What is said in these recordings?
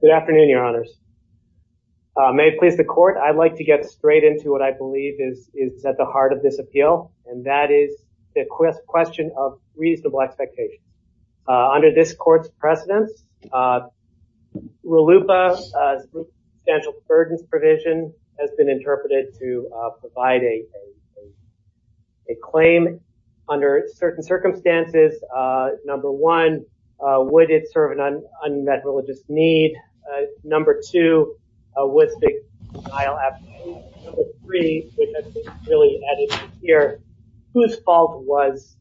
Good afternoon, your honors. May it please the court, I'd like to get straight into what I believe is at the heart of this appeal, and that is the question of reasonable expectation. Under this court's precedence, RLUIPA, Substantial Burdens Provision, has been interpreted to provide a claim under certain circumstances. Number one, would it serve an unmet religious need? Number two, was the denial absolute? Number three, which has been really added here, whose fault was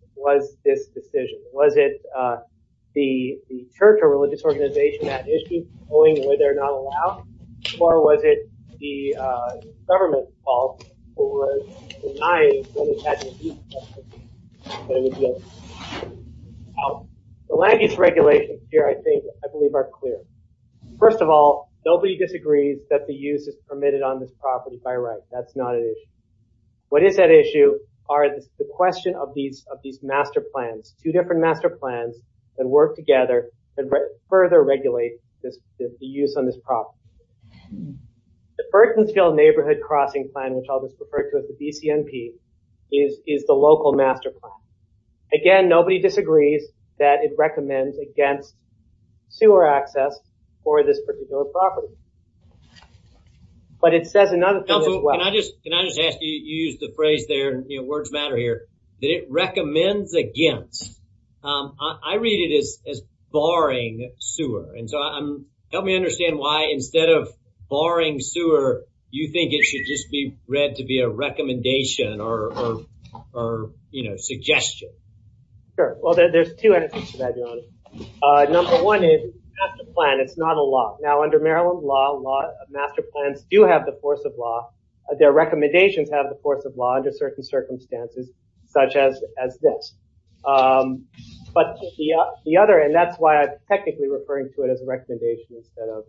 this decision? Was it the church or religious organization at issue, knowing whether or not allowed, or was it the government's fault for denying that it had to be? The language regulations here, I think, I believe are clear. First of all, nobody disagrees that the use is permitted on this property by right. That's not an issue. What is at issue are the question of these master plans, two different master plans that work together and further regulate the use on this property. The Burtonsville Neighborhood Crossing Plan, which I'll just refer to as the BCNP, is the local master plan. Again, nobody disagrees that it recommends against sewer access for this particular property, but it says another thing as well. Can I just ask you to use the phrase there, words matter here, that it recommends against. I read it as barring sewer, and so help me understand why instead of barring sewer, you think it should just be read to be a recommendation or, you know, suggestion. Sure. Well, there's two answers to that, Your Honor. Number one is, it's a master plan, it's not a law. Now, under Maryland law, a lot of master plans do have the force of law. Their recommendations have the force of law under certain circumstances, such as this. But the other, and that's why I'm technically referring to it as a recommendation instead of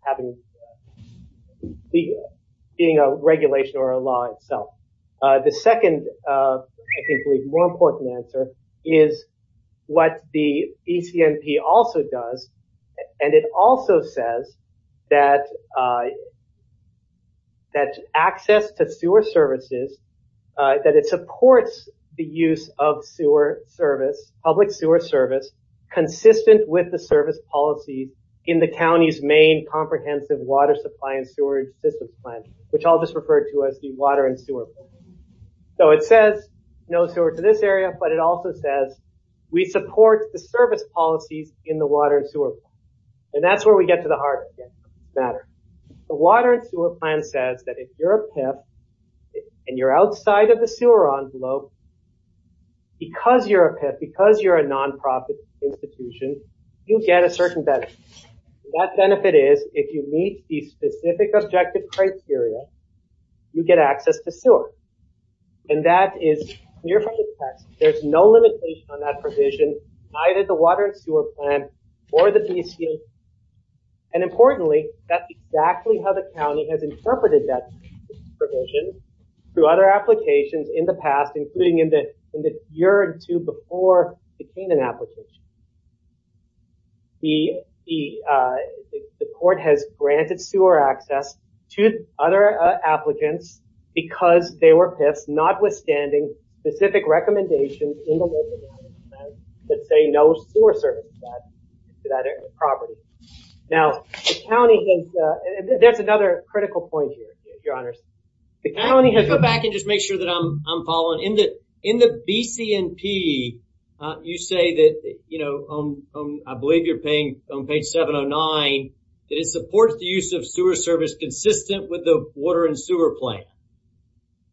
having, being a regulation or a law itself. The second, I think, more important answer is what the BCNP also does, and it also says that access to sewer services, that it supports the use of sewer service, public sewer service, consistent with the service policy in the county's main comprehensive water supply and sewer system plan, which I'll just refer to as the water and sewer plan. So it says no sewer to this area, but it also says we support the service policies in the water and sewer plan. And that's where we get to the heart of the matter. The water and sewer plan says that if you're a PIP and you're outside of the sewer envelope, because you're a PIP, because you're a nonprofit institution, you get a certain benefit. That benefit is, if you meet the specific objective criteria, you get access to sewer. And that is clear from the text. There's no limitation on that provision, either the water and sewer plan or the BCNP. And importantly, that's exactly how the county has interpreted that provision through other applications in the past, including in the year or two before it became an application. The court has granted sewer access to other applicants because they were PIPs, notwithstanding specific recommendations that say no sewer service to that property. Now, the county has, that's another critical point here, your honors, the county has... Can I go back and just make sure that I'm following? In the BCNP, you say that, you know, I believe you're paying on page 709, that it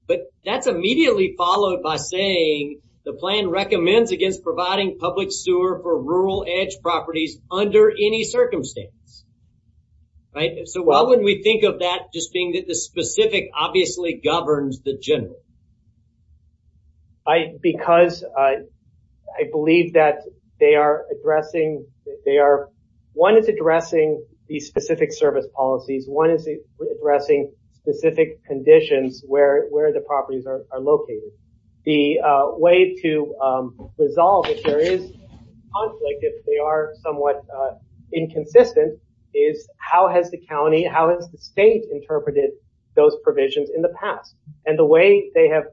but that's immediately followed by saying the plan recommends against providing public sewer for rural edge properties under any circumstance, right? So why wouldn't we think of that just being that the specific obviously governs the general? I, because I believe that they are addressing, they are, one is addressing these specific service policies, one is addressing specific conditions where the properties are located. The way to resolve if there is conflict, if they are somewhat inconsistent, is how has the county, how has the state interpreted those provisions in the past? And the way they have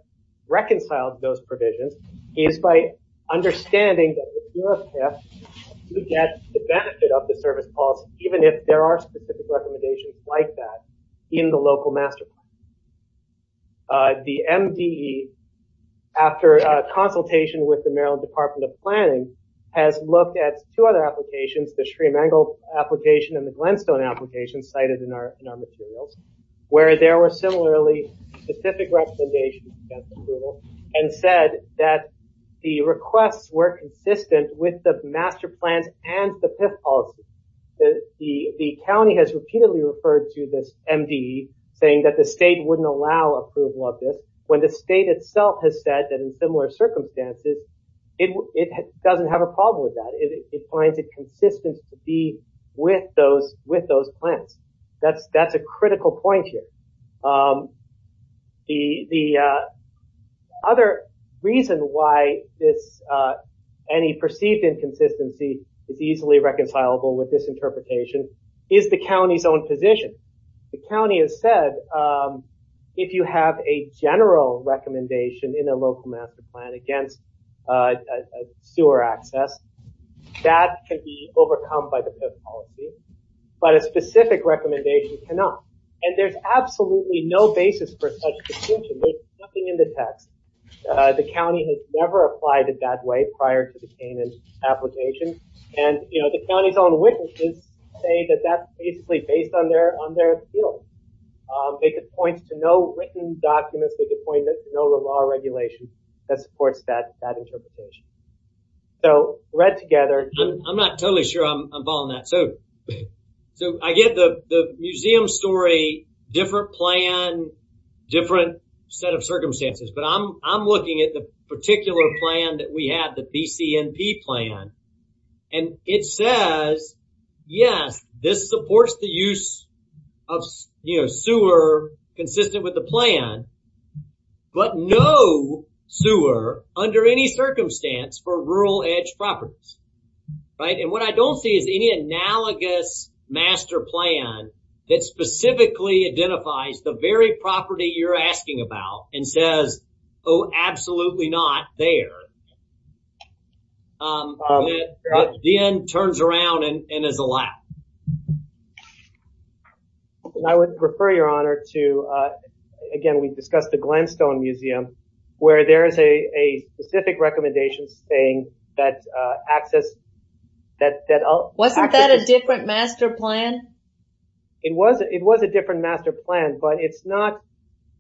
reconciled those provisions is by understanding that the PIPs do get the benefit of the service policy, even if there are specific recommendations like that in the local master plan. The MDE, after a consultation with the Maryland Department of Planning, has looked at two other applications, the Shremangal application and the Glenstone application cited in our materials, where there were similarly specific recommendations and said that the requests were consistent with the master plans and the PIP policy. The county has repeatedly referred to this MDE saying that the state wouldn't allow approval of this when the state itself has said that in similar circumstances it doesn't have a problem with that. It finds it consistent to be with those with those plans. That's a critical point here. The other reason why this, any perceived inconsistency is easily reconcilable with this county's own position. The county has said if you have a general recommendation in a local master plan against sewer access, that can be overcome by the PIP policy, but a specific recommendation cannot. And there's absolutely no basis for such distinction. There's nothing in the text. The county has never applied it that way prior to the Canaan application and, you know, the county's own witnesses say that that's basically based on their skills. They could point to no written documents, they could point to no law or regulation that supports that interpretation. So read together. I'm not totally sure I'm following that. So I get the museum story, different plan, different set of circumstances, but I'm I'm looking at the particular plan that we had, the BCNP plan, and it says yes this supports the use of, you know, sewer consistent with the plan, but no sewer under any circumstance for rural edge properties, right? And what I don't see is any analogous master plan that specifically identifies the very property you're asking about and says, oh absolutely not there, but then turns around and is allowed. I would refer your honor to, again we discussed the Glamstone Museum, where there is a specific recommendation saying that access that... Wasn't that a different master plan? It was a different master plan, but it's not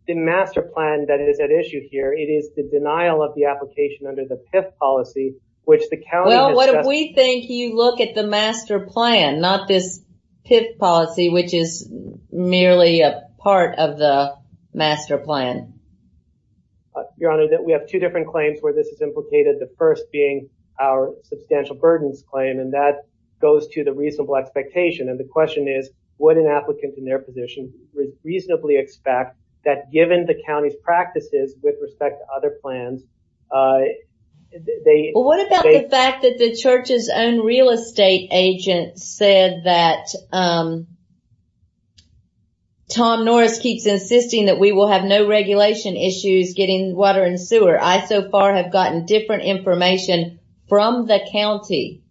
the master plan that is at issue here. It is the denial of the application under the PIP policy, which the county... Well what we think you look at the master plan, not this PIP policy, which is merely a part of the master plan. Your honor, that we have two different claims where this is implicated. The first being our substantial burdens claim, and that goes to the reasonable expectation, and the question is would an applicant in their position reasonably expect that given the county's practices with respect to their plans? What about the fact that the church's own real estate agent said that Tom Norris keeps insisting that we will have no regulation issues getting water and sewer. I so far have gotten different information from the county.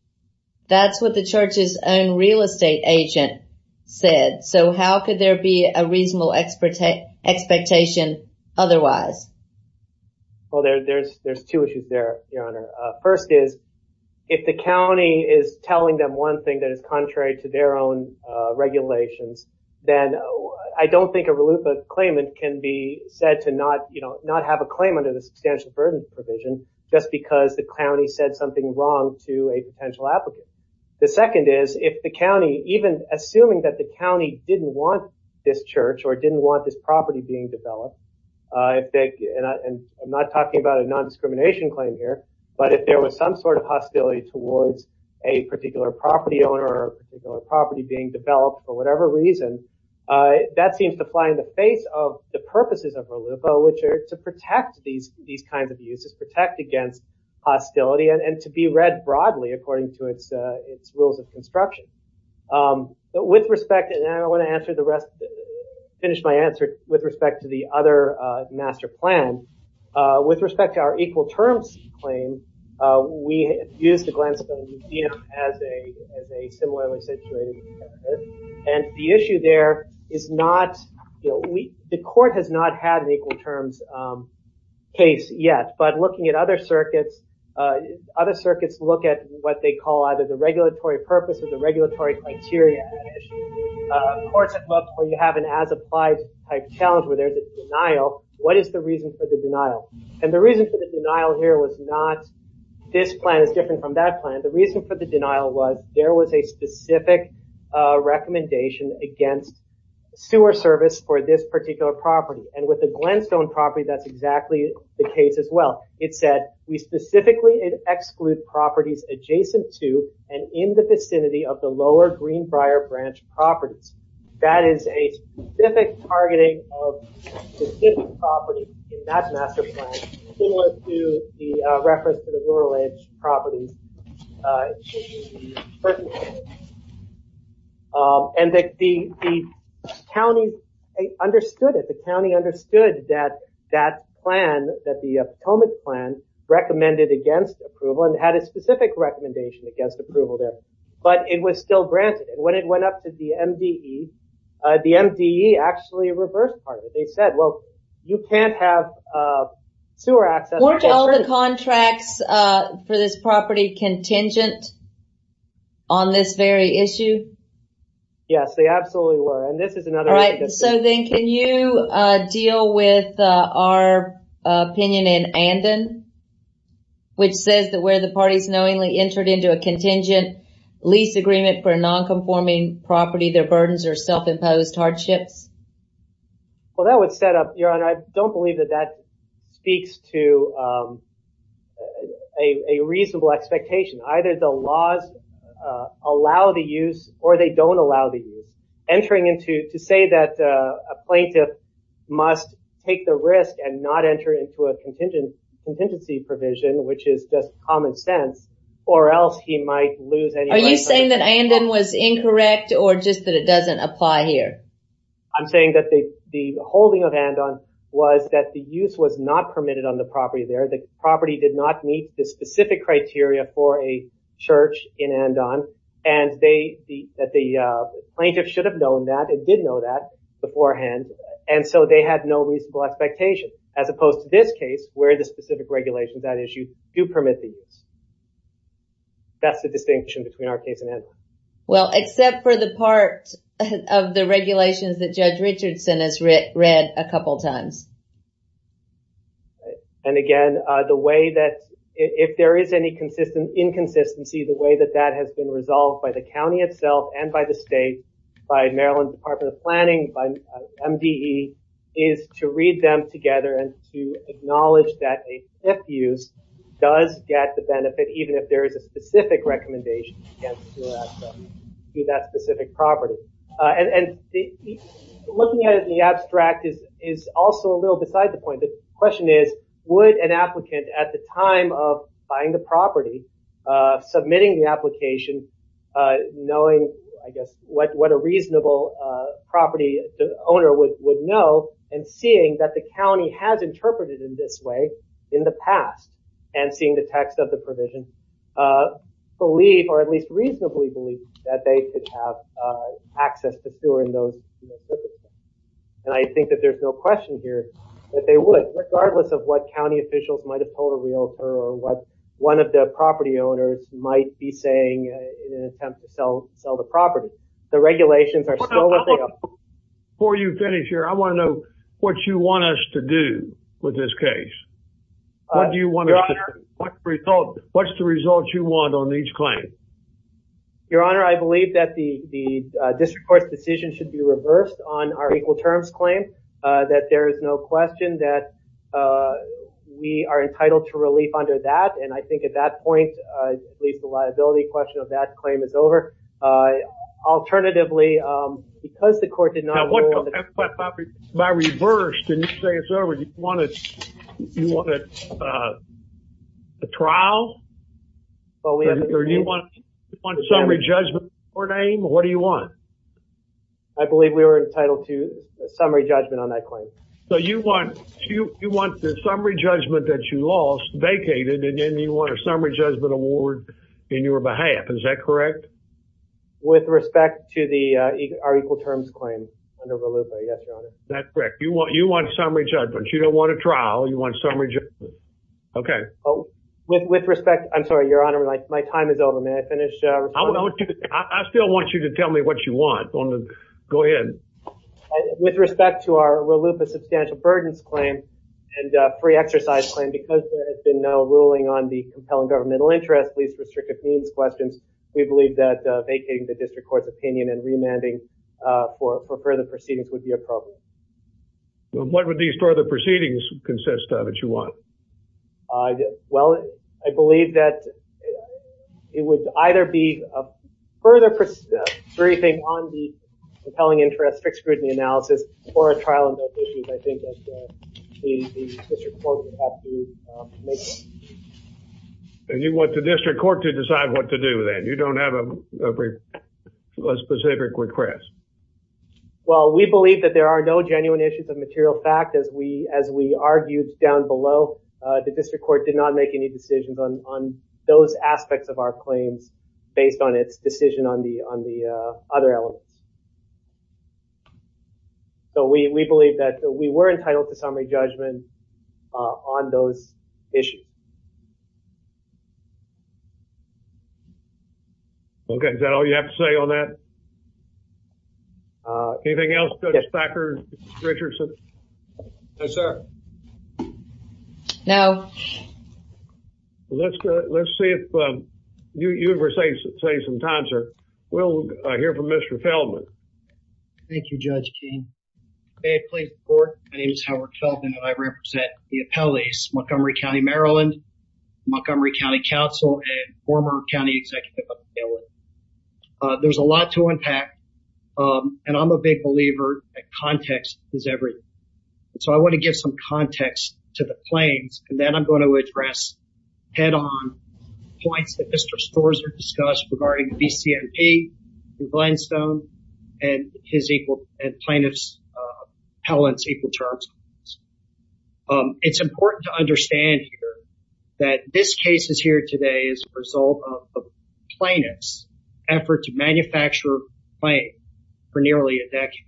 That's what the church's own real estate agent said, so how could there be a Well there's two issues there, your honor. First is if the county is telling them one thing that is contrary to their own regulations, then I don't think a RLUIPA claimant can be said to not, you know, not have a claim under the substantial burden provision just because the county said something wrong to a potential applicant. The second is if the county, even assuming that the county didn't want this church or didn't want this property being developed, I think, and I'm not talking about a non-discrimination claim here, but if there was some sort of hostility towards a particular property owner or property being developed for whatever reason, that seems to fly in the face of the purposes of RLUIPA, which are to protect these these kinds of uses, protect against hostility, and to be read broadly according to its rules of construction. But with respect, and I want to answer the rest, finish my answer with respect to the other master plan, with respect to our equal terms claim, we use the Glensville Museum as a similarly situated, and the issue there is not, you know, the court has not had an equal terms case yet, but looking at other circuits, other circuits look at what they call either the regulatory purpose or the regulatory criteria. Courts have looked where you have an as-applied type challenge where there's a denial. What is the reason for the denial? And the reason for the denial here was not this plan is different from that plan. The reason for the denial was there was a specific recommendation against sewer service for this particular property, and with the Glenstone property that's exactly the case as well. It said we specifically exclude properties adjacent to and in the vicinity of the lower Greenbrier branch properties. That is a specific targeting of specific properties in that master plan, similar to the reference to the rural edge properties, and that the county understood it. The county understood that that plan, that the Potomac plan, recommended against approval and had a specific recommendation against approval there, but it was still granted, and when it went up to the MDE, the MDE actually reversed part of it. They said, well, you can't have sewer access. Weren't all the contracts for this property contingent on this very issue? Yes, they absolutely were, and this is another. All right, so then can you deal with our opinion in Andon, which says that where the parties knowingly entered into a contingent lease agreement for a non-conforming property, their burdens are self-imposed hardships? Well, that would set up, Your Honor, I don't believe that that speaks to a reasonable expectation. Either the laws allow the must take the risk and not enter into a contingency provision, which is just common sense, or else he might lose. Are you saying that Andon was incorrect or just that it doesn't apply here? I'm saying that the holding of Andon was that the use was not permitted on the property there. The property did not meet the specific criteria for a church in Andon, and that the plaintiff should have known that and did know that beforehand, and so they had no reasonable expectation, as opposed to this case where the specific regulations that issue do permit the use. That's the distinction between our case and Andon. Well, except for the part of the regulations that Judge Richardson has read a couple times. And again, the way that if there is any inconsistent inconsistency, the way that that has been resolved by the county itself and by the state, by Maryland Department of Planning, by MDE, is to read them together and to acknowledge that a sniff use does get the benefit, even if there is a specific recommendation to that specific property. And looking at it in the abstract is also a little beside the point. The question is, would an applicant at the time of buying the property, submitting the application, knowing, I guess, what a reasonable property owner would know, and seeing that the county has interpreted in this way in the past, and seeing the text of the provision, believe, or at least reasonably believe, that they could have access to tour in those. And I think that there's no question here that they would, regardless of what county officials might have been saying in an attempt to sell the property, the regulations are still what they are. Before you finish here, I want to know what you want us to do with this case. What do you want us to do? What's the result you want on each claim? Your Honor, I believe that the district court's decision should be reversed on our equal terms claim, that there is no question that we are entitled to relief under that, and I think at that point, at least the liability question of that claim is over. Alternatively, because the court did not rule on the property... By reversed, and you say it's over, do you want a trial, or do you want summary judgment in your name? What do you want? I believe we were entitled to a summary judgment on that claim. So you want the summary judgment that you lost, vacated, and then you want a summary judgment award in your behalf, is that correct? With respect to our equal terms claim under RLUPA, yes, Your Honor. That's correct. You want summary judgment. You don't want a trial, you want summary judgment. Okay. With respect, I'm sorry, Your Honor, my time is over. May I finish? I still want you to tell me what you want. Go ahead. With respect to our RLUPA substantial burdens claim and free exercise claim, because there has been no ruling on the compelling governmental interest, least restrictive means questions, we believe that vacating the district court's opinion and remanding for further proceedings would be appropriate. What would these further proceedings consist of that you want? Well, I believe that it would either be a further briefing on the compelling interest, fixed scrutiny analysis, or a trial on those issues. I think that the district court would have to make that decision. And you want the district court to decide what to do then? You don't have a specific request? Well, we believe that there are no genuine issues of material fact. As we argued down below, the district court did not make any decisions on those aspects of our claims based on its decision on the other elements. So we believe that we were entitled to summary judgment on those issues. Okay. Is that all you have to say on that? Anything else, Dr. Richardson? No, sir. No. Let's see if you were saying some time, sir. We'll hear from Mr. Feldman. Thank you, Judge Keene. May I please report? My name is Howard Feldman, and I represent the appellees, Montgomery County, Maryland, Montgomery County Council, and former county executive. There's a lot to unpack. And I'm a big believer that context is everything. So I want to give some context to the claims, and then I'm going to address head-on points that Mr. Storrs has discussed regarding VCMP, Glenstone, and plaintiff's appellant's equal terms. It's important to understand that this case is here today as a result of the plaintiff's effort to manufacture a claim for nearly a decade.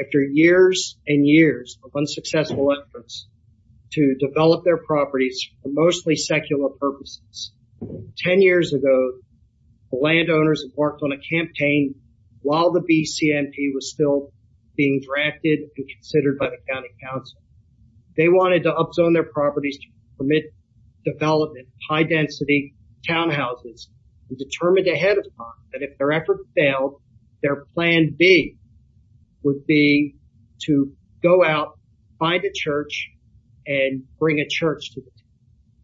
After years and years of unsuccessful efforts to develop their properties for mostly secular purposes, 10 years ago, the landowners embarked on a campaign while the VCMP was still being drafted and considered by the county council. They wanted to up-zone their properties to permit development, high-density townhouses, and determined ahead of time that if their effort failed, their plan B would be to go out, find a church, and bring a church to it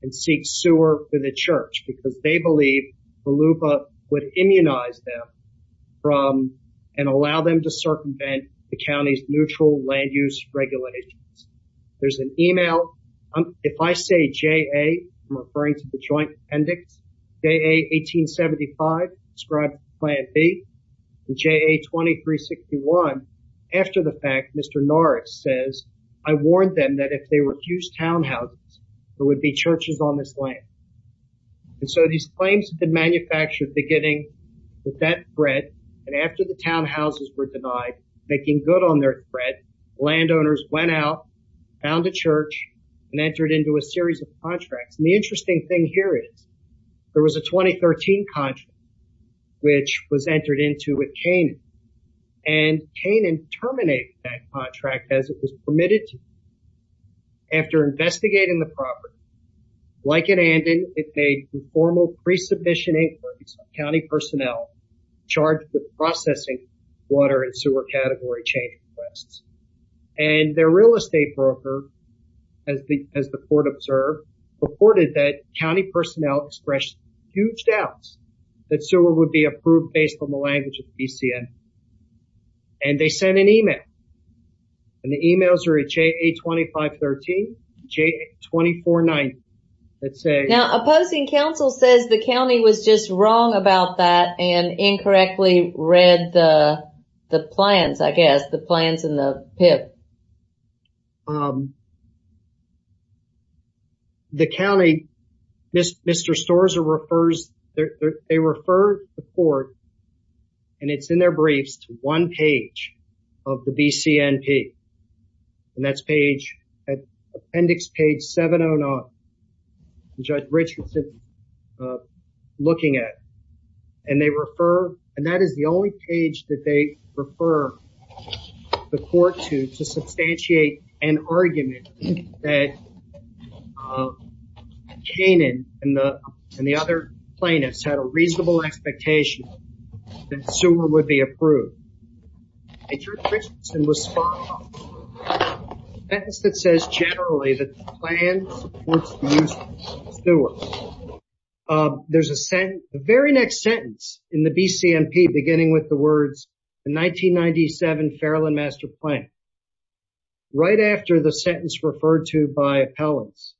and seek sewer for the church, because they believed VELUPA would immunize them and allow them to circumvent the county's neutral land-use regulations. There's an email. If I say JA, I'm referring to the Joint Appendix, JA 1875, ascribed to Plan B, and JA 2361, after the fact, Mr. Norris says, I warned them that if they refused townhouses, there would be churches on this land. And so these claims had been manufactured beginning with that threat, and after the townhouses were denied, making good on their threat, landowners went out, found a church, and entered into a series of contracts. And the interesting thing here is there was a 2013 contract which was entered into with Canaan, and Canaan terminated that contract as it was permitted to. After investigating the property, like in Andon, it made informal pre-submission inquiries of county personnel charged with processing water and sewer category chain requests. And their real estate broker, as the court observed, reported that county personnel expressed huge doubts that sewer would be approved based on the language of the BCN. And they sent an email. And the emails are at JA 2513, JA 2490, that say... The county, Mr. Storza refers, they refer the court, and it's in their briefs, to one page of the BCNP. And that's page, Appendix page 709, Judge Richardson looking at. And they refer, and that is the only page that they refer the court to. To substantiate an argument that Canaan and the other plaintiffs had a reasonable expectation that sewer would be approved. Judge Richardson was spot on. A sentence that says, generally, that the plan supports the use of sewer. There's a sentence, the very next sentence in the BCNP, beginning with the words, the 1997 Fairland Master Plan, right after the sentence referred to by appellants,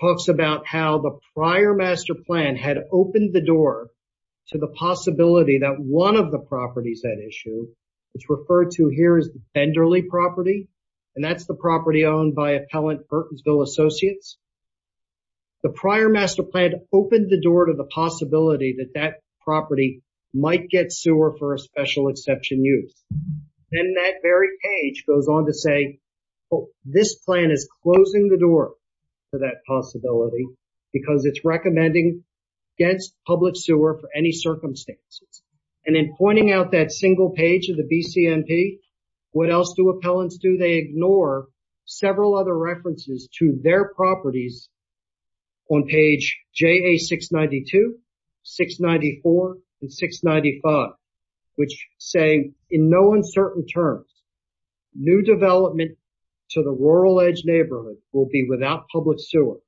talks about how the prior master plan had opened the door to the possibility that one of the properties that issue, it's referred to here as the Benderley property. And that's the property owned by Appellant Burtonsville Associates. The prior master plan opened the door to the possibility that that property might get sewer for a special exception use. And that very page goes on to say, this plan is closing the door to that possibility because it's recommending against public sewer for any circumstances. And in pointing out that single page of the BCNP, what else do appellants do? They ignore several other references to their properties on page JA 692, 694, and 695, which say, in no uncertain terms, new development to the rural edge neighborhood will be without public sewer.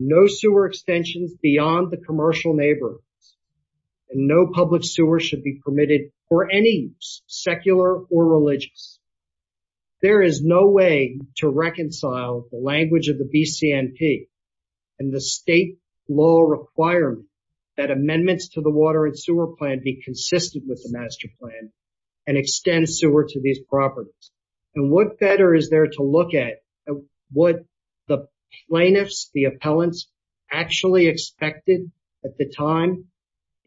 No sewer extensions beyond the commercial neighborhood. And no public sewer should be permitted for any secular or religious. There is no way to reconcile the language of the BCNP and the state law requirement that amendments to the water and sewer plan be consistent with the master plan and extend sewer to these properties. And what better is there to look at what the plaintiffs, the appellants actually expected at the time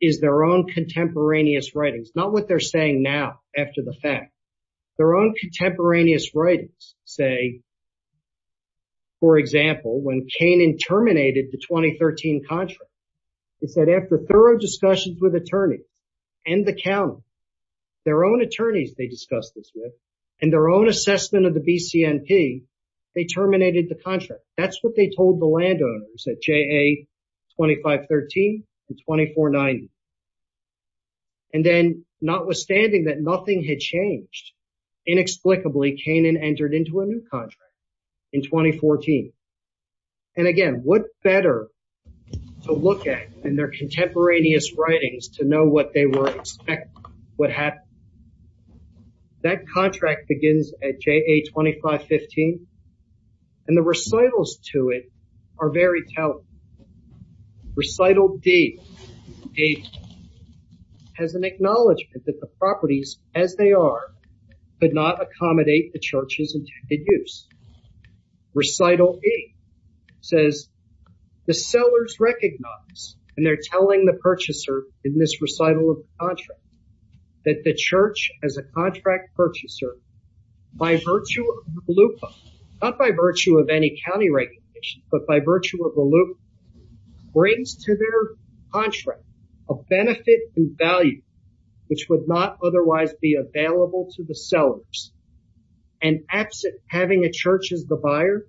is their own contemporaneous writings. Not what they're saying now after the fact. Their own contemporaneous writings say, for example, when Canaan terminated the 2013 contract. They said after thorough discussions with attorneys and the county, their own attorneys they discussed this with, and their own assessment of the BCNP, they terminated the contract. That's what they told the landowners at JA 2513 and 2490. And then notwithstanding that nothing had changed, inexplicably, Canaan entered into a new contract in 2014. And again, what better to look at in their contemporaneous writings to know what they were expecting, what happened. That contract begins at JA 2515, and the recitals to it are very telling. Recital D has an acknowledgement that the properties as they are could not accommodate the church's intended use. Recital E says the sellers recognize, and they're telling the purchaser in this recital of the contract, that the church as a contract purchaser, by virtue of the LUPA, not by virtue of any county regulation, but by virtue of the LUPA, brings to their contract a benefit and value which would not otherwise be available to the sellers. And absent having a church as the buyer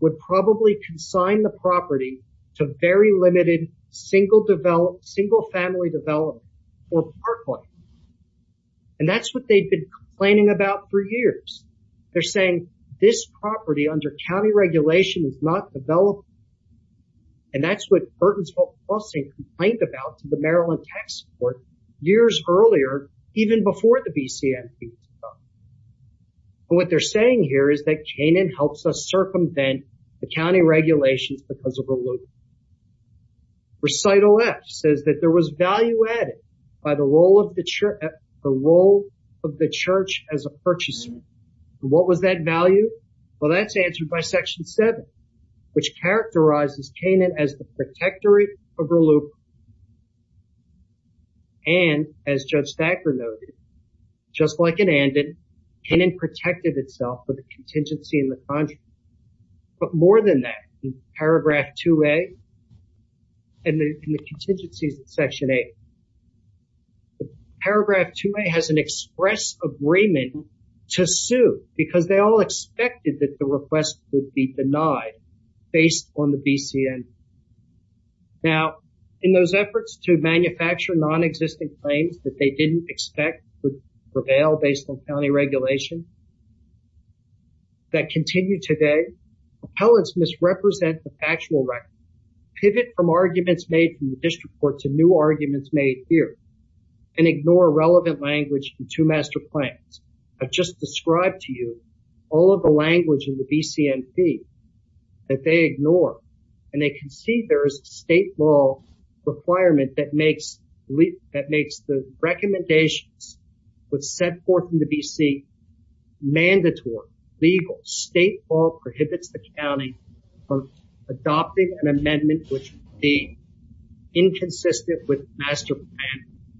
would probably consign the property to very limited single family development or parkland. And that's what they've been complaining about for years. They're saying this property under county regulation is not developed. And that's what Burtonsville Plussing complained about to the Maryland Tax Court years earlier, even before the BCMP. What they're saying here is that Canaan helps us circumvent the county regulations because of the LUPA. Recital F says that there was value added by the role of the church as a purchaser. What was that value? Well, that's answered by Section 7, which characterizes Canaan as the protectorate of the LUPA. And, as Judge Thacker noted, just like in Andan, Canaan protected itself with a contingency in the contract. But more than that, in Paragraph 2A and the contingencies in Section 8, Paragraph 2A has an express agreement to sue because they all expected that the request would be denied based on the BCMP. Now, in those efforts to manufacture nonexistent claims that they didn't expect would prevail based on county regulation, that continue today, appellants misrepresent the factual record, pivot from arguments made in the district court to new arguments made here, and ignore relevant language in two master claims. I've just described to you all of the language in the BCMP that they ignore. And they can see there is a state law requirement that makes the recommendations set forth in the BC mandatory, legal. State law prohibits the county from adopting an amendment which would be inconsistent with master plan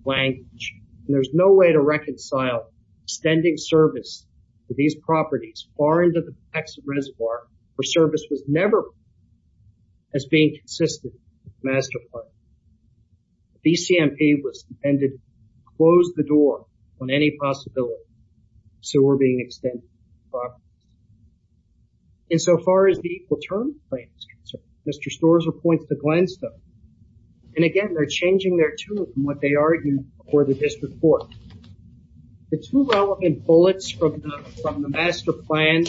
language. And there's no way to reconcile extending service to these properties far into the Texas Reservoir where service was never as being consistent with master plan. The BCMP was intended to close the door on any possibility of sewer being extended to these properties. And so far as the equal terms claim is concerned, Mr. Storza points to Glenstone. And again, they're changing their tune from what they argued for the district court. The two relevant bullets from the master plan,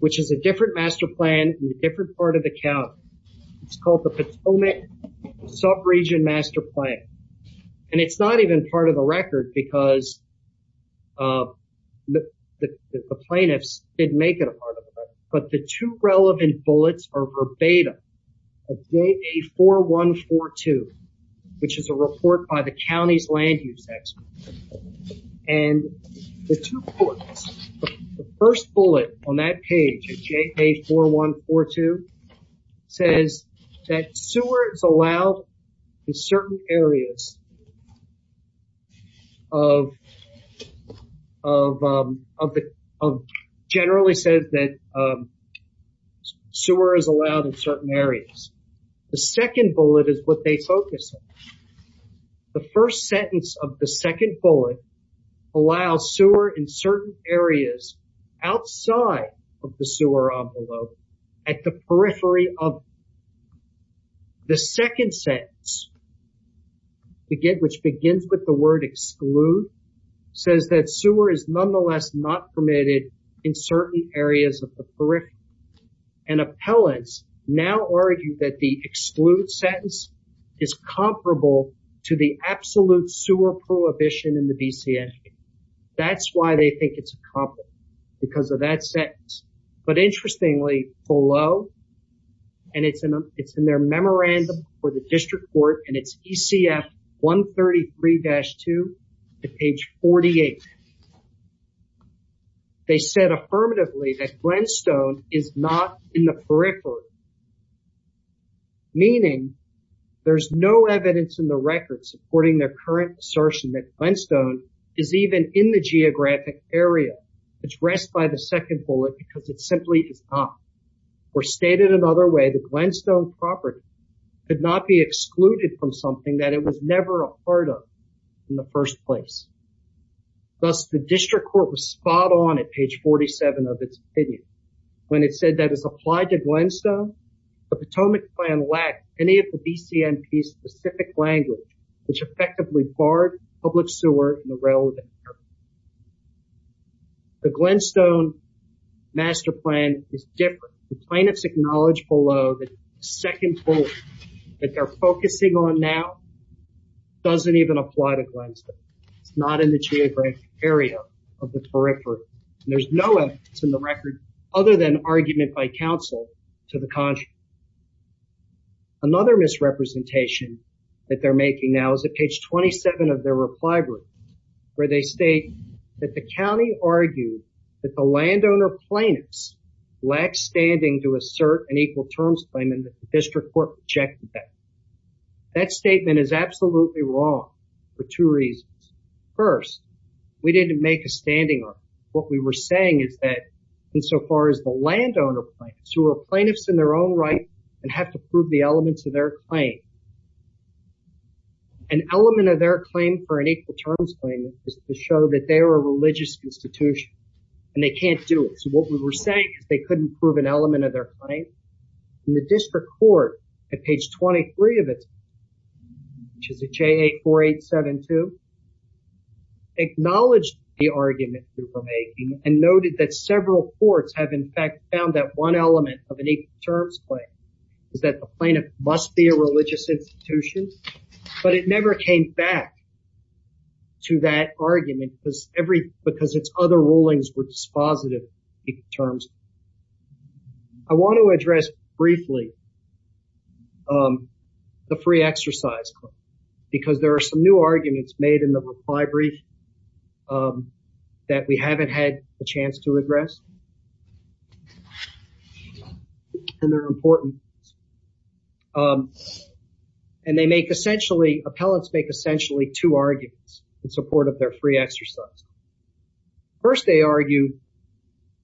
which is a different master plan in a different part of the county. It's called the Potomac Subregion Master Plan. And it's not even part of the record because the plaintiffs didn't make it a part of the record. But the two relevant bullets are verbatim of JA 4142, which is a report by the county's land use expert. And the two bullets, the first bullet on that page, JA 4142, says that sewer is allowed in certain areas. Generally says that sewer is allowed in certain areas. The second bullet is what they focus on. The first sentence of the second bullet allows sewer in certain areas outside of the sewer envelope at the periphery of. The second sentence, which begins with the word exclude, says that sewer is nonetheless not permitted in certain areas of the periphery. And appellants now argue that the exclude sentence is comparable to the absolute sewer prohibition in the BC Act. That's why they think it's comparable, because of that sentence. But interestingly, below, and it's in their memorandum for the district court, and it's ECF 133-2 to page 48. They said affirmatively that Glenstone is not in the periphery. Meaning there's no evidence in the record supporting their current assertion that Glenstone is even in the geographic area. It's addressed by the second bullet because it simply is not. Or stated another way, the Glenstone property could not be excluded from something that it was never a part of in the first place. Thus, the district court was spot on at page 47 of its opinion. When it said that it's applied to Glenstone, the Potomac plan lacked any of the BCMP's specific language, which effectively barred public sewer in the relevant area. The Glenstone master plan is different. The plaintiffs acknowledge below that the second bullet that they're focusing on now doesn't even apply to Glenstone. It's not in the geographic area of the periphery. There's no evidence in the record other than argument by counsel to the contrary. Another misrepresentation that they're making now is at page 27 of their reply where they state that the county argued that the landowner plaintiffs lacked standing to assert an equal terms claim and the district court rejected that. That statement is absolutely wrong for two reasons. First, we didn't make a standing on it. What we were saying is that insofar as the landowner plaintiffs, who are plaintiffs in their own right and have to prove the elements of their claim, an element of their claim for an equal terms claim is to show that they're a religious institution and they can't do it. So what we were saying is they couldn't prove an element of their claim. And the district court at page 23 of it, which is a JA 4872, acknowledged the argument they were making and noted that several courts have in fact found that one element of an equal terms claim is that the plaintiff must be a religious institution. But it never came back to that argument because its other rulings were dispositive of equal terms. I want to address briefly the free exercise claim because there are some new arguments made in the reply brief that we haven't had a chance to address. And they're important. And they make essentially, appellants make essentially two arguments in support of their free exercise. First, they argue,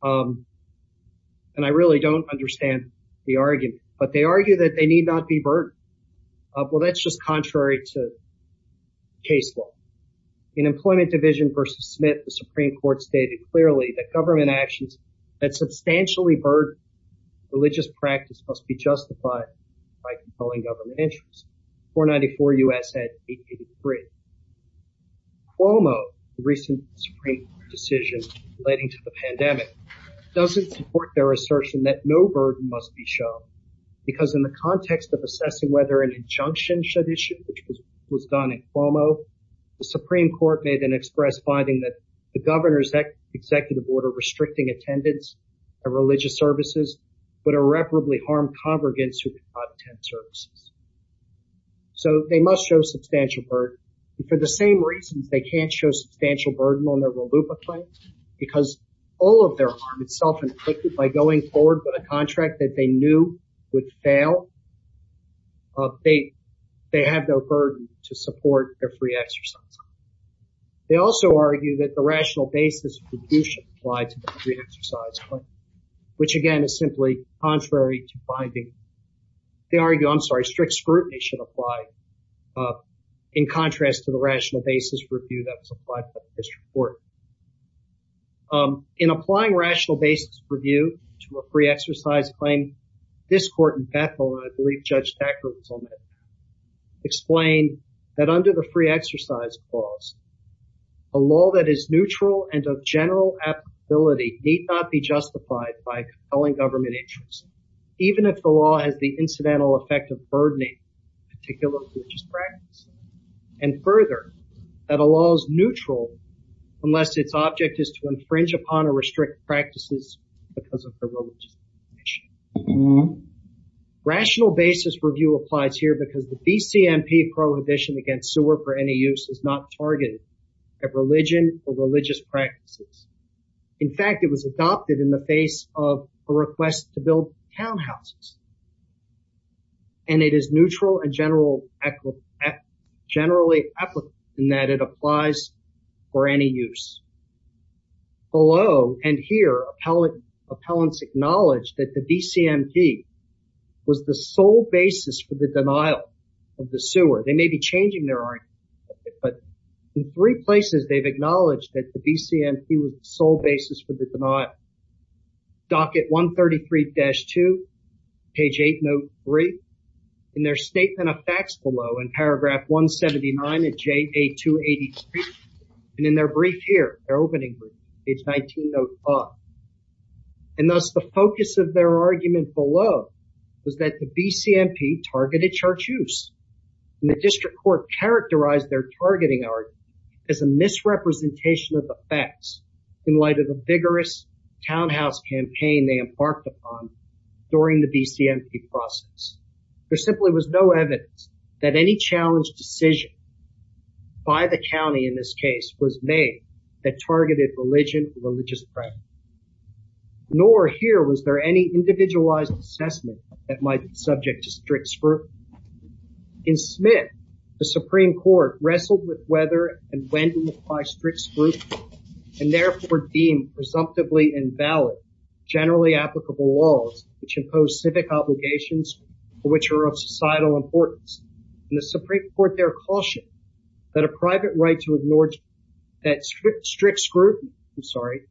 and I really don't understand the argument, but they argue that they need not be burdened. Well, that's just contrary to case law. In Employment Division versus Smith, the Supreme Court stated clearly that government actions that substantially burden religious practice must be justified by controlling government interests. 494 U.S. at 883. Cuomo, the recent Supreme Court decision relating to the pandemic, doesn't support their assertion that no burden must be shown. Because in the context of assessing whether an injunction should issue, which was done in Cuomo, the Supreme Court made an express finding that the governor's executive order restricting attendance at religious services would irreparably harm congregants who did not attend services. So they must show substantial burden. And for the same reasons they can't show substantial burden on their RLUIPA claims, because all of their harm is self-implicated by going forward with a contract that they knew would fail. They have no burden to support their free exercise. They also argue that the rational basis of deduction applied to the free exercise claim, which again is simply contrary to finding. They argue, I'm sorry, strict scrutiny should apply in contrast to the rational basis review that was applied to the district court. In applying rational basis review to a free exercise claim, this court in Bethel, and I believe Judge Thackeray was on it, explained that under the free exercise clause, a law that is neutral and of general applicability need not be justified by compelling government interests. Even if the law has the incidental effect of burdening particular religious practice. And further, that a law is neutral unless its object is to infringe upon or restrict practices because of the religious condition. Rational basis review applies here because the BCMP prohibition against sewer for any use is not targeted at religion or religious practices. In fact, it was adopted in the face of a request to build townhouses. And it is neutral and generally applicable in that it applies for any use. Below and here, appellants acknowledge that the BCMP was the sole basis for the denial of the sewer. They may be changing their argument, but in three places they've acknowledged that the BCMP was the sole basis for the denial. Docket 133-2, page 8, note 3. In their statement of facts below in paragraph 179 of JA 283, and in their brief here, their opening brief, page 19, note 5. And thus the focus of their argument below was that the BCMP targeted church use. And the district court characterized their targeting argument as a misrepresentation of the facts in light of the vigorous townhouse campaign they embarked upon during the BCMP process. There simply was no evidence that any challenge decision by the county in this case was made that targeted religion or religious practice. Nor here was there any individualized assessment that might be subject to strict scrutiny. In Smith, the Supreme Court wrestled with whether and when to apply strict scrutiny. And therefore deemed presumptively invalid generally applicable laws which impose civic obligations which are of societal importance. And the Supreme Court there cautioned that a private right to ignore that strict scrutiny, I'm sorry,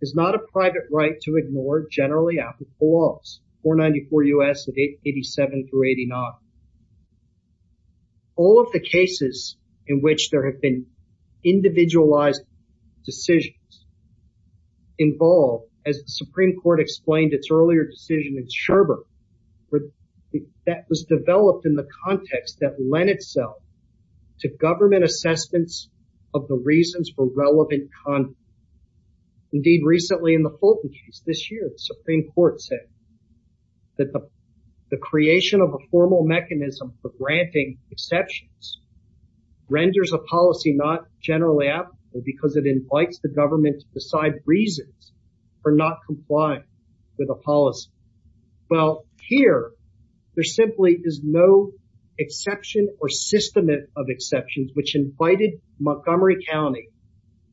is not a private right to ignore generally applicable laws. 494 U.S., 87 through 89. All of the cases in which there have been individualized decisions involved, as the Supreme Court explained its earlier decision in Sherbrooke, that was developed in the context that lent itself to government assessments of the reasons for relevant conduct. Indeed, recently in the Fulton case this year, the Supreme Court said that the creation of a formal mechanism for granting exceptions renders a policy not generally applicable because it invites the government to decide reasons for not complying with a policy. Well, here there simply is no exception or system of exceptions which invited Montgomery County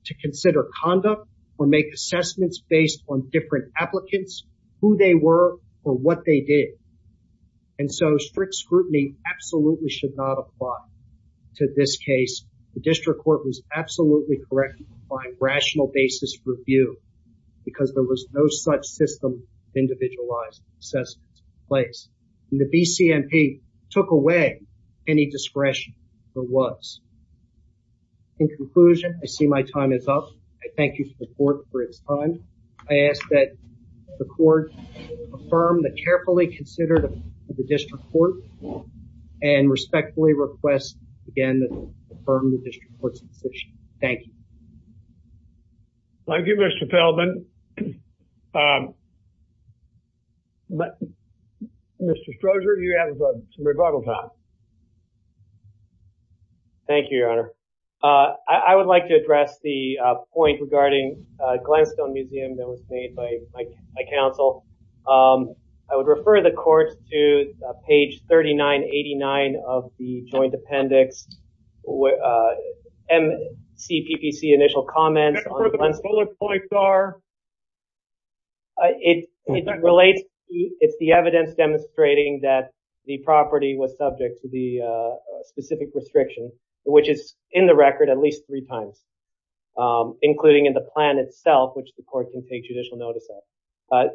to consider conduct or make assessments based on different applicants, who they were, or what they did. And so strict scrutiny absolutely should not apply to this case. The District Court was absolutely correct to find rational basis for review because there was no such system of individualized assessments in place. And the BCMP took away any discretion there was. In conclusion, I see my time is up. I thank you for the Court for its time. I ask that the Court affirm the carefully considered District Court and respectfully request again to affirm the District Court's decision. Thank you. Thank you, Mr. Feldman. Mr. Strozier, you have some rebuttal time. Thank you, Your Honor. I would like to address the point regarding Glenstone Museum that was made by my counsel. I would refer the Court to page 3989 of the Joint Appendix. And see PPC initial comments on Glenstone. It relates. It's the evidence demonstrating that the property was subject to the specific restriction, which is in the record at least three times, including in the plan itself, which the Court can take judicial notice of.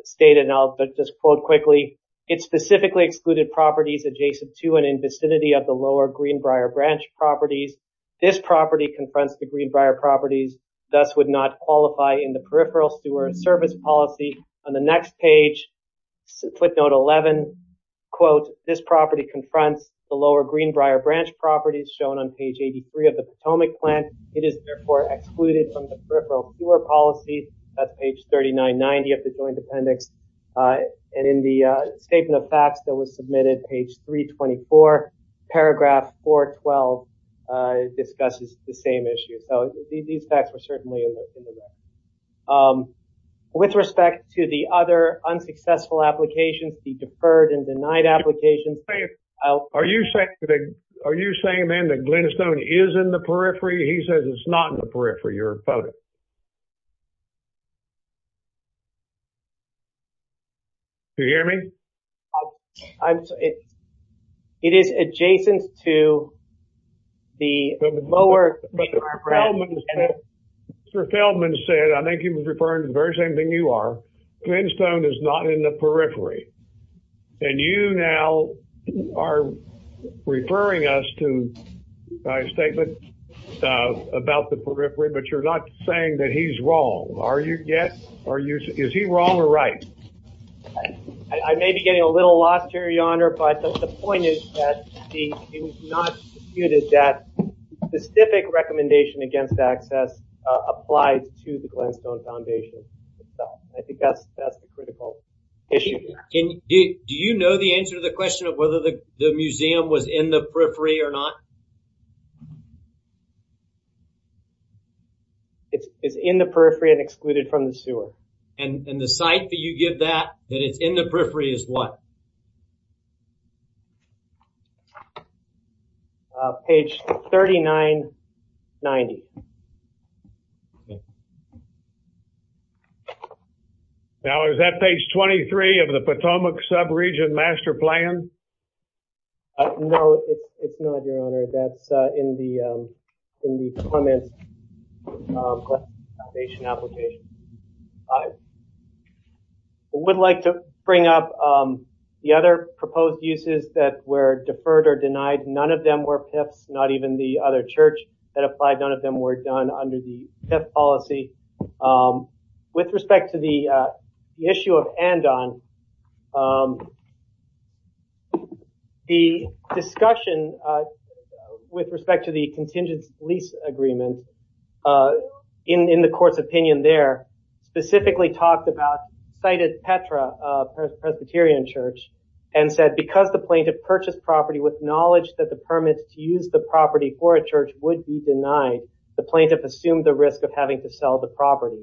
It specifically excluded properties adjacent to and in vicinity of the lower Greenbrier branch properties. This property confronts the Greenbrier properties, thus would not qualify in the peripheral sewer and service policy. On the next page, footnote 11, quote, this property confronts the lower Greenbrier branch properties shown on page 83 of the Potomac plan. It is therefore excluded from the peripheral sewer policy. That's page 3990 of the Joint Appendix. And in the statement of facts that was submitted, page 324, paragraph 412 discusses the same issue. So these facts were certainly in the record. With respect to the other unsuccessful applications, the deferred and denied applications. Are you saying then that Glenstone is in the periphery? He says it's not in the periphery, your opponent. Do you hear me? It is adjacent to the lower Greenbrier branch. Mr. Feldman said, I think he was referring to the very same thing you are, Glenstone is not in the periphery. And you now are referring us to a statement about the periphery, but you're not saying that he's wrong. Are you? Yes. Are you? Is he wrong or right? I may be getting a little lost here, Your Honor. But the point is that it was not disputed that the specific recommendation against access applied to the Glenstone Foundation. I think that's the critical issue. Do you know the answer to the question of whether the museum was in the periphery or not? It's in the periphery and excluded from the sewer. And the site that you give that, that it's in the periphery is what? Page 3990. Now, is that page 23 of the Potomac sub-region master plan? No, it's not, Your Honor. That's in the comments application. I would like to bring up the other proposed uses that were deferred or denied. None of them were PIFs, not even the other church that applied. None of them were done under the PIF policy. With respect to the issue of Andon, the discussion with respect to the contingent lease agreement in the court's opinion there, specifically talked about cited Petra Presbyterian Church and said, because the plaintiff purchased property with knowledge that the permits to use the property for a church would be denied, the plaintiff assumed the risk of having to sell the property.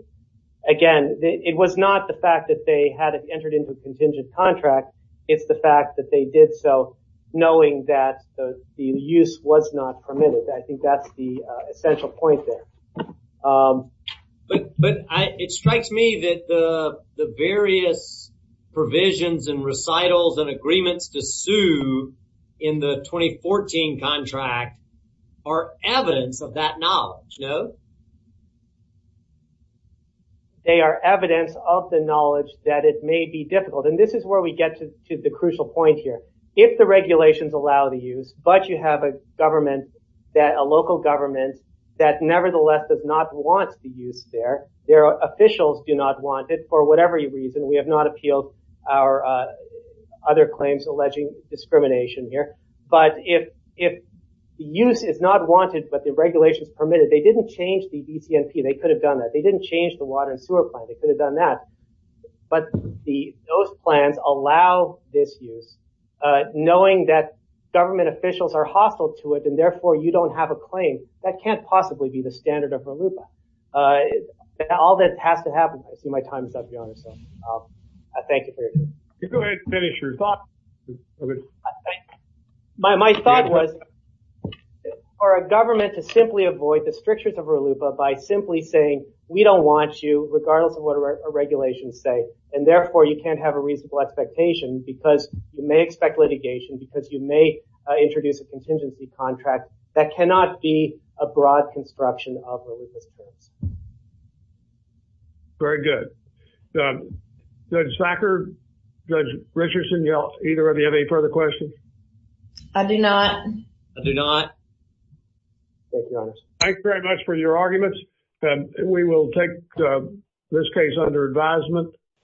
Again, it was not the fact that they had entered into a contingent contract. It's the fact that they did so knowing that the use was not permitted. I think that's the essential point there. But it strikes me that the various provisions and recitals and agreements to sue in the 2014 contract are evidence of that knowledge, no? They are evidence of the knowledge that it may be difficult. And this is where we get to the crucial point here. If the regulations allow the use, but you have a local government that nevertheless does not want the use there, their officials do not want it for whatever reason. We have not appealed our other claims alleging discrimination here. But if the use is not wanted, but the regulations permit it, they didn't change the ECMP. They could have done that. They didn't change the water and sewer plan. They could have done that. But those plans allow this use, knowing that government officials are hostile to it, and therefore you don't have a claim. That can't possibly be the standard of RLUIPA. All that has to happen. I see my time is up, Your Honor, so I thank you very much. Go ahead and finish your thought. My thought was for a government to simply avoid the strictures of RLUIPA by simply saying we don't want you, regardless of what our regulations say, and therefore you can't have a reasonable expectation because you may expect litigation, because you may introduce a contingency contract. That cannot be a broad construction of RLUIPA's claims. Very good. Judge Thacker, Judge Richardson, either of you have any further questions? I do not. I do not. Thank you, Your Honor. Thank you very much for your arguments. We will take this case under advisement.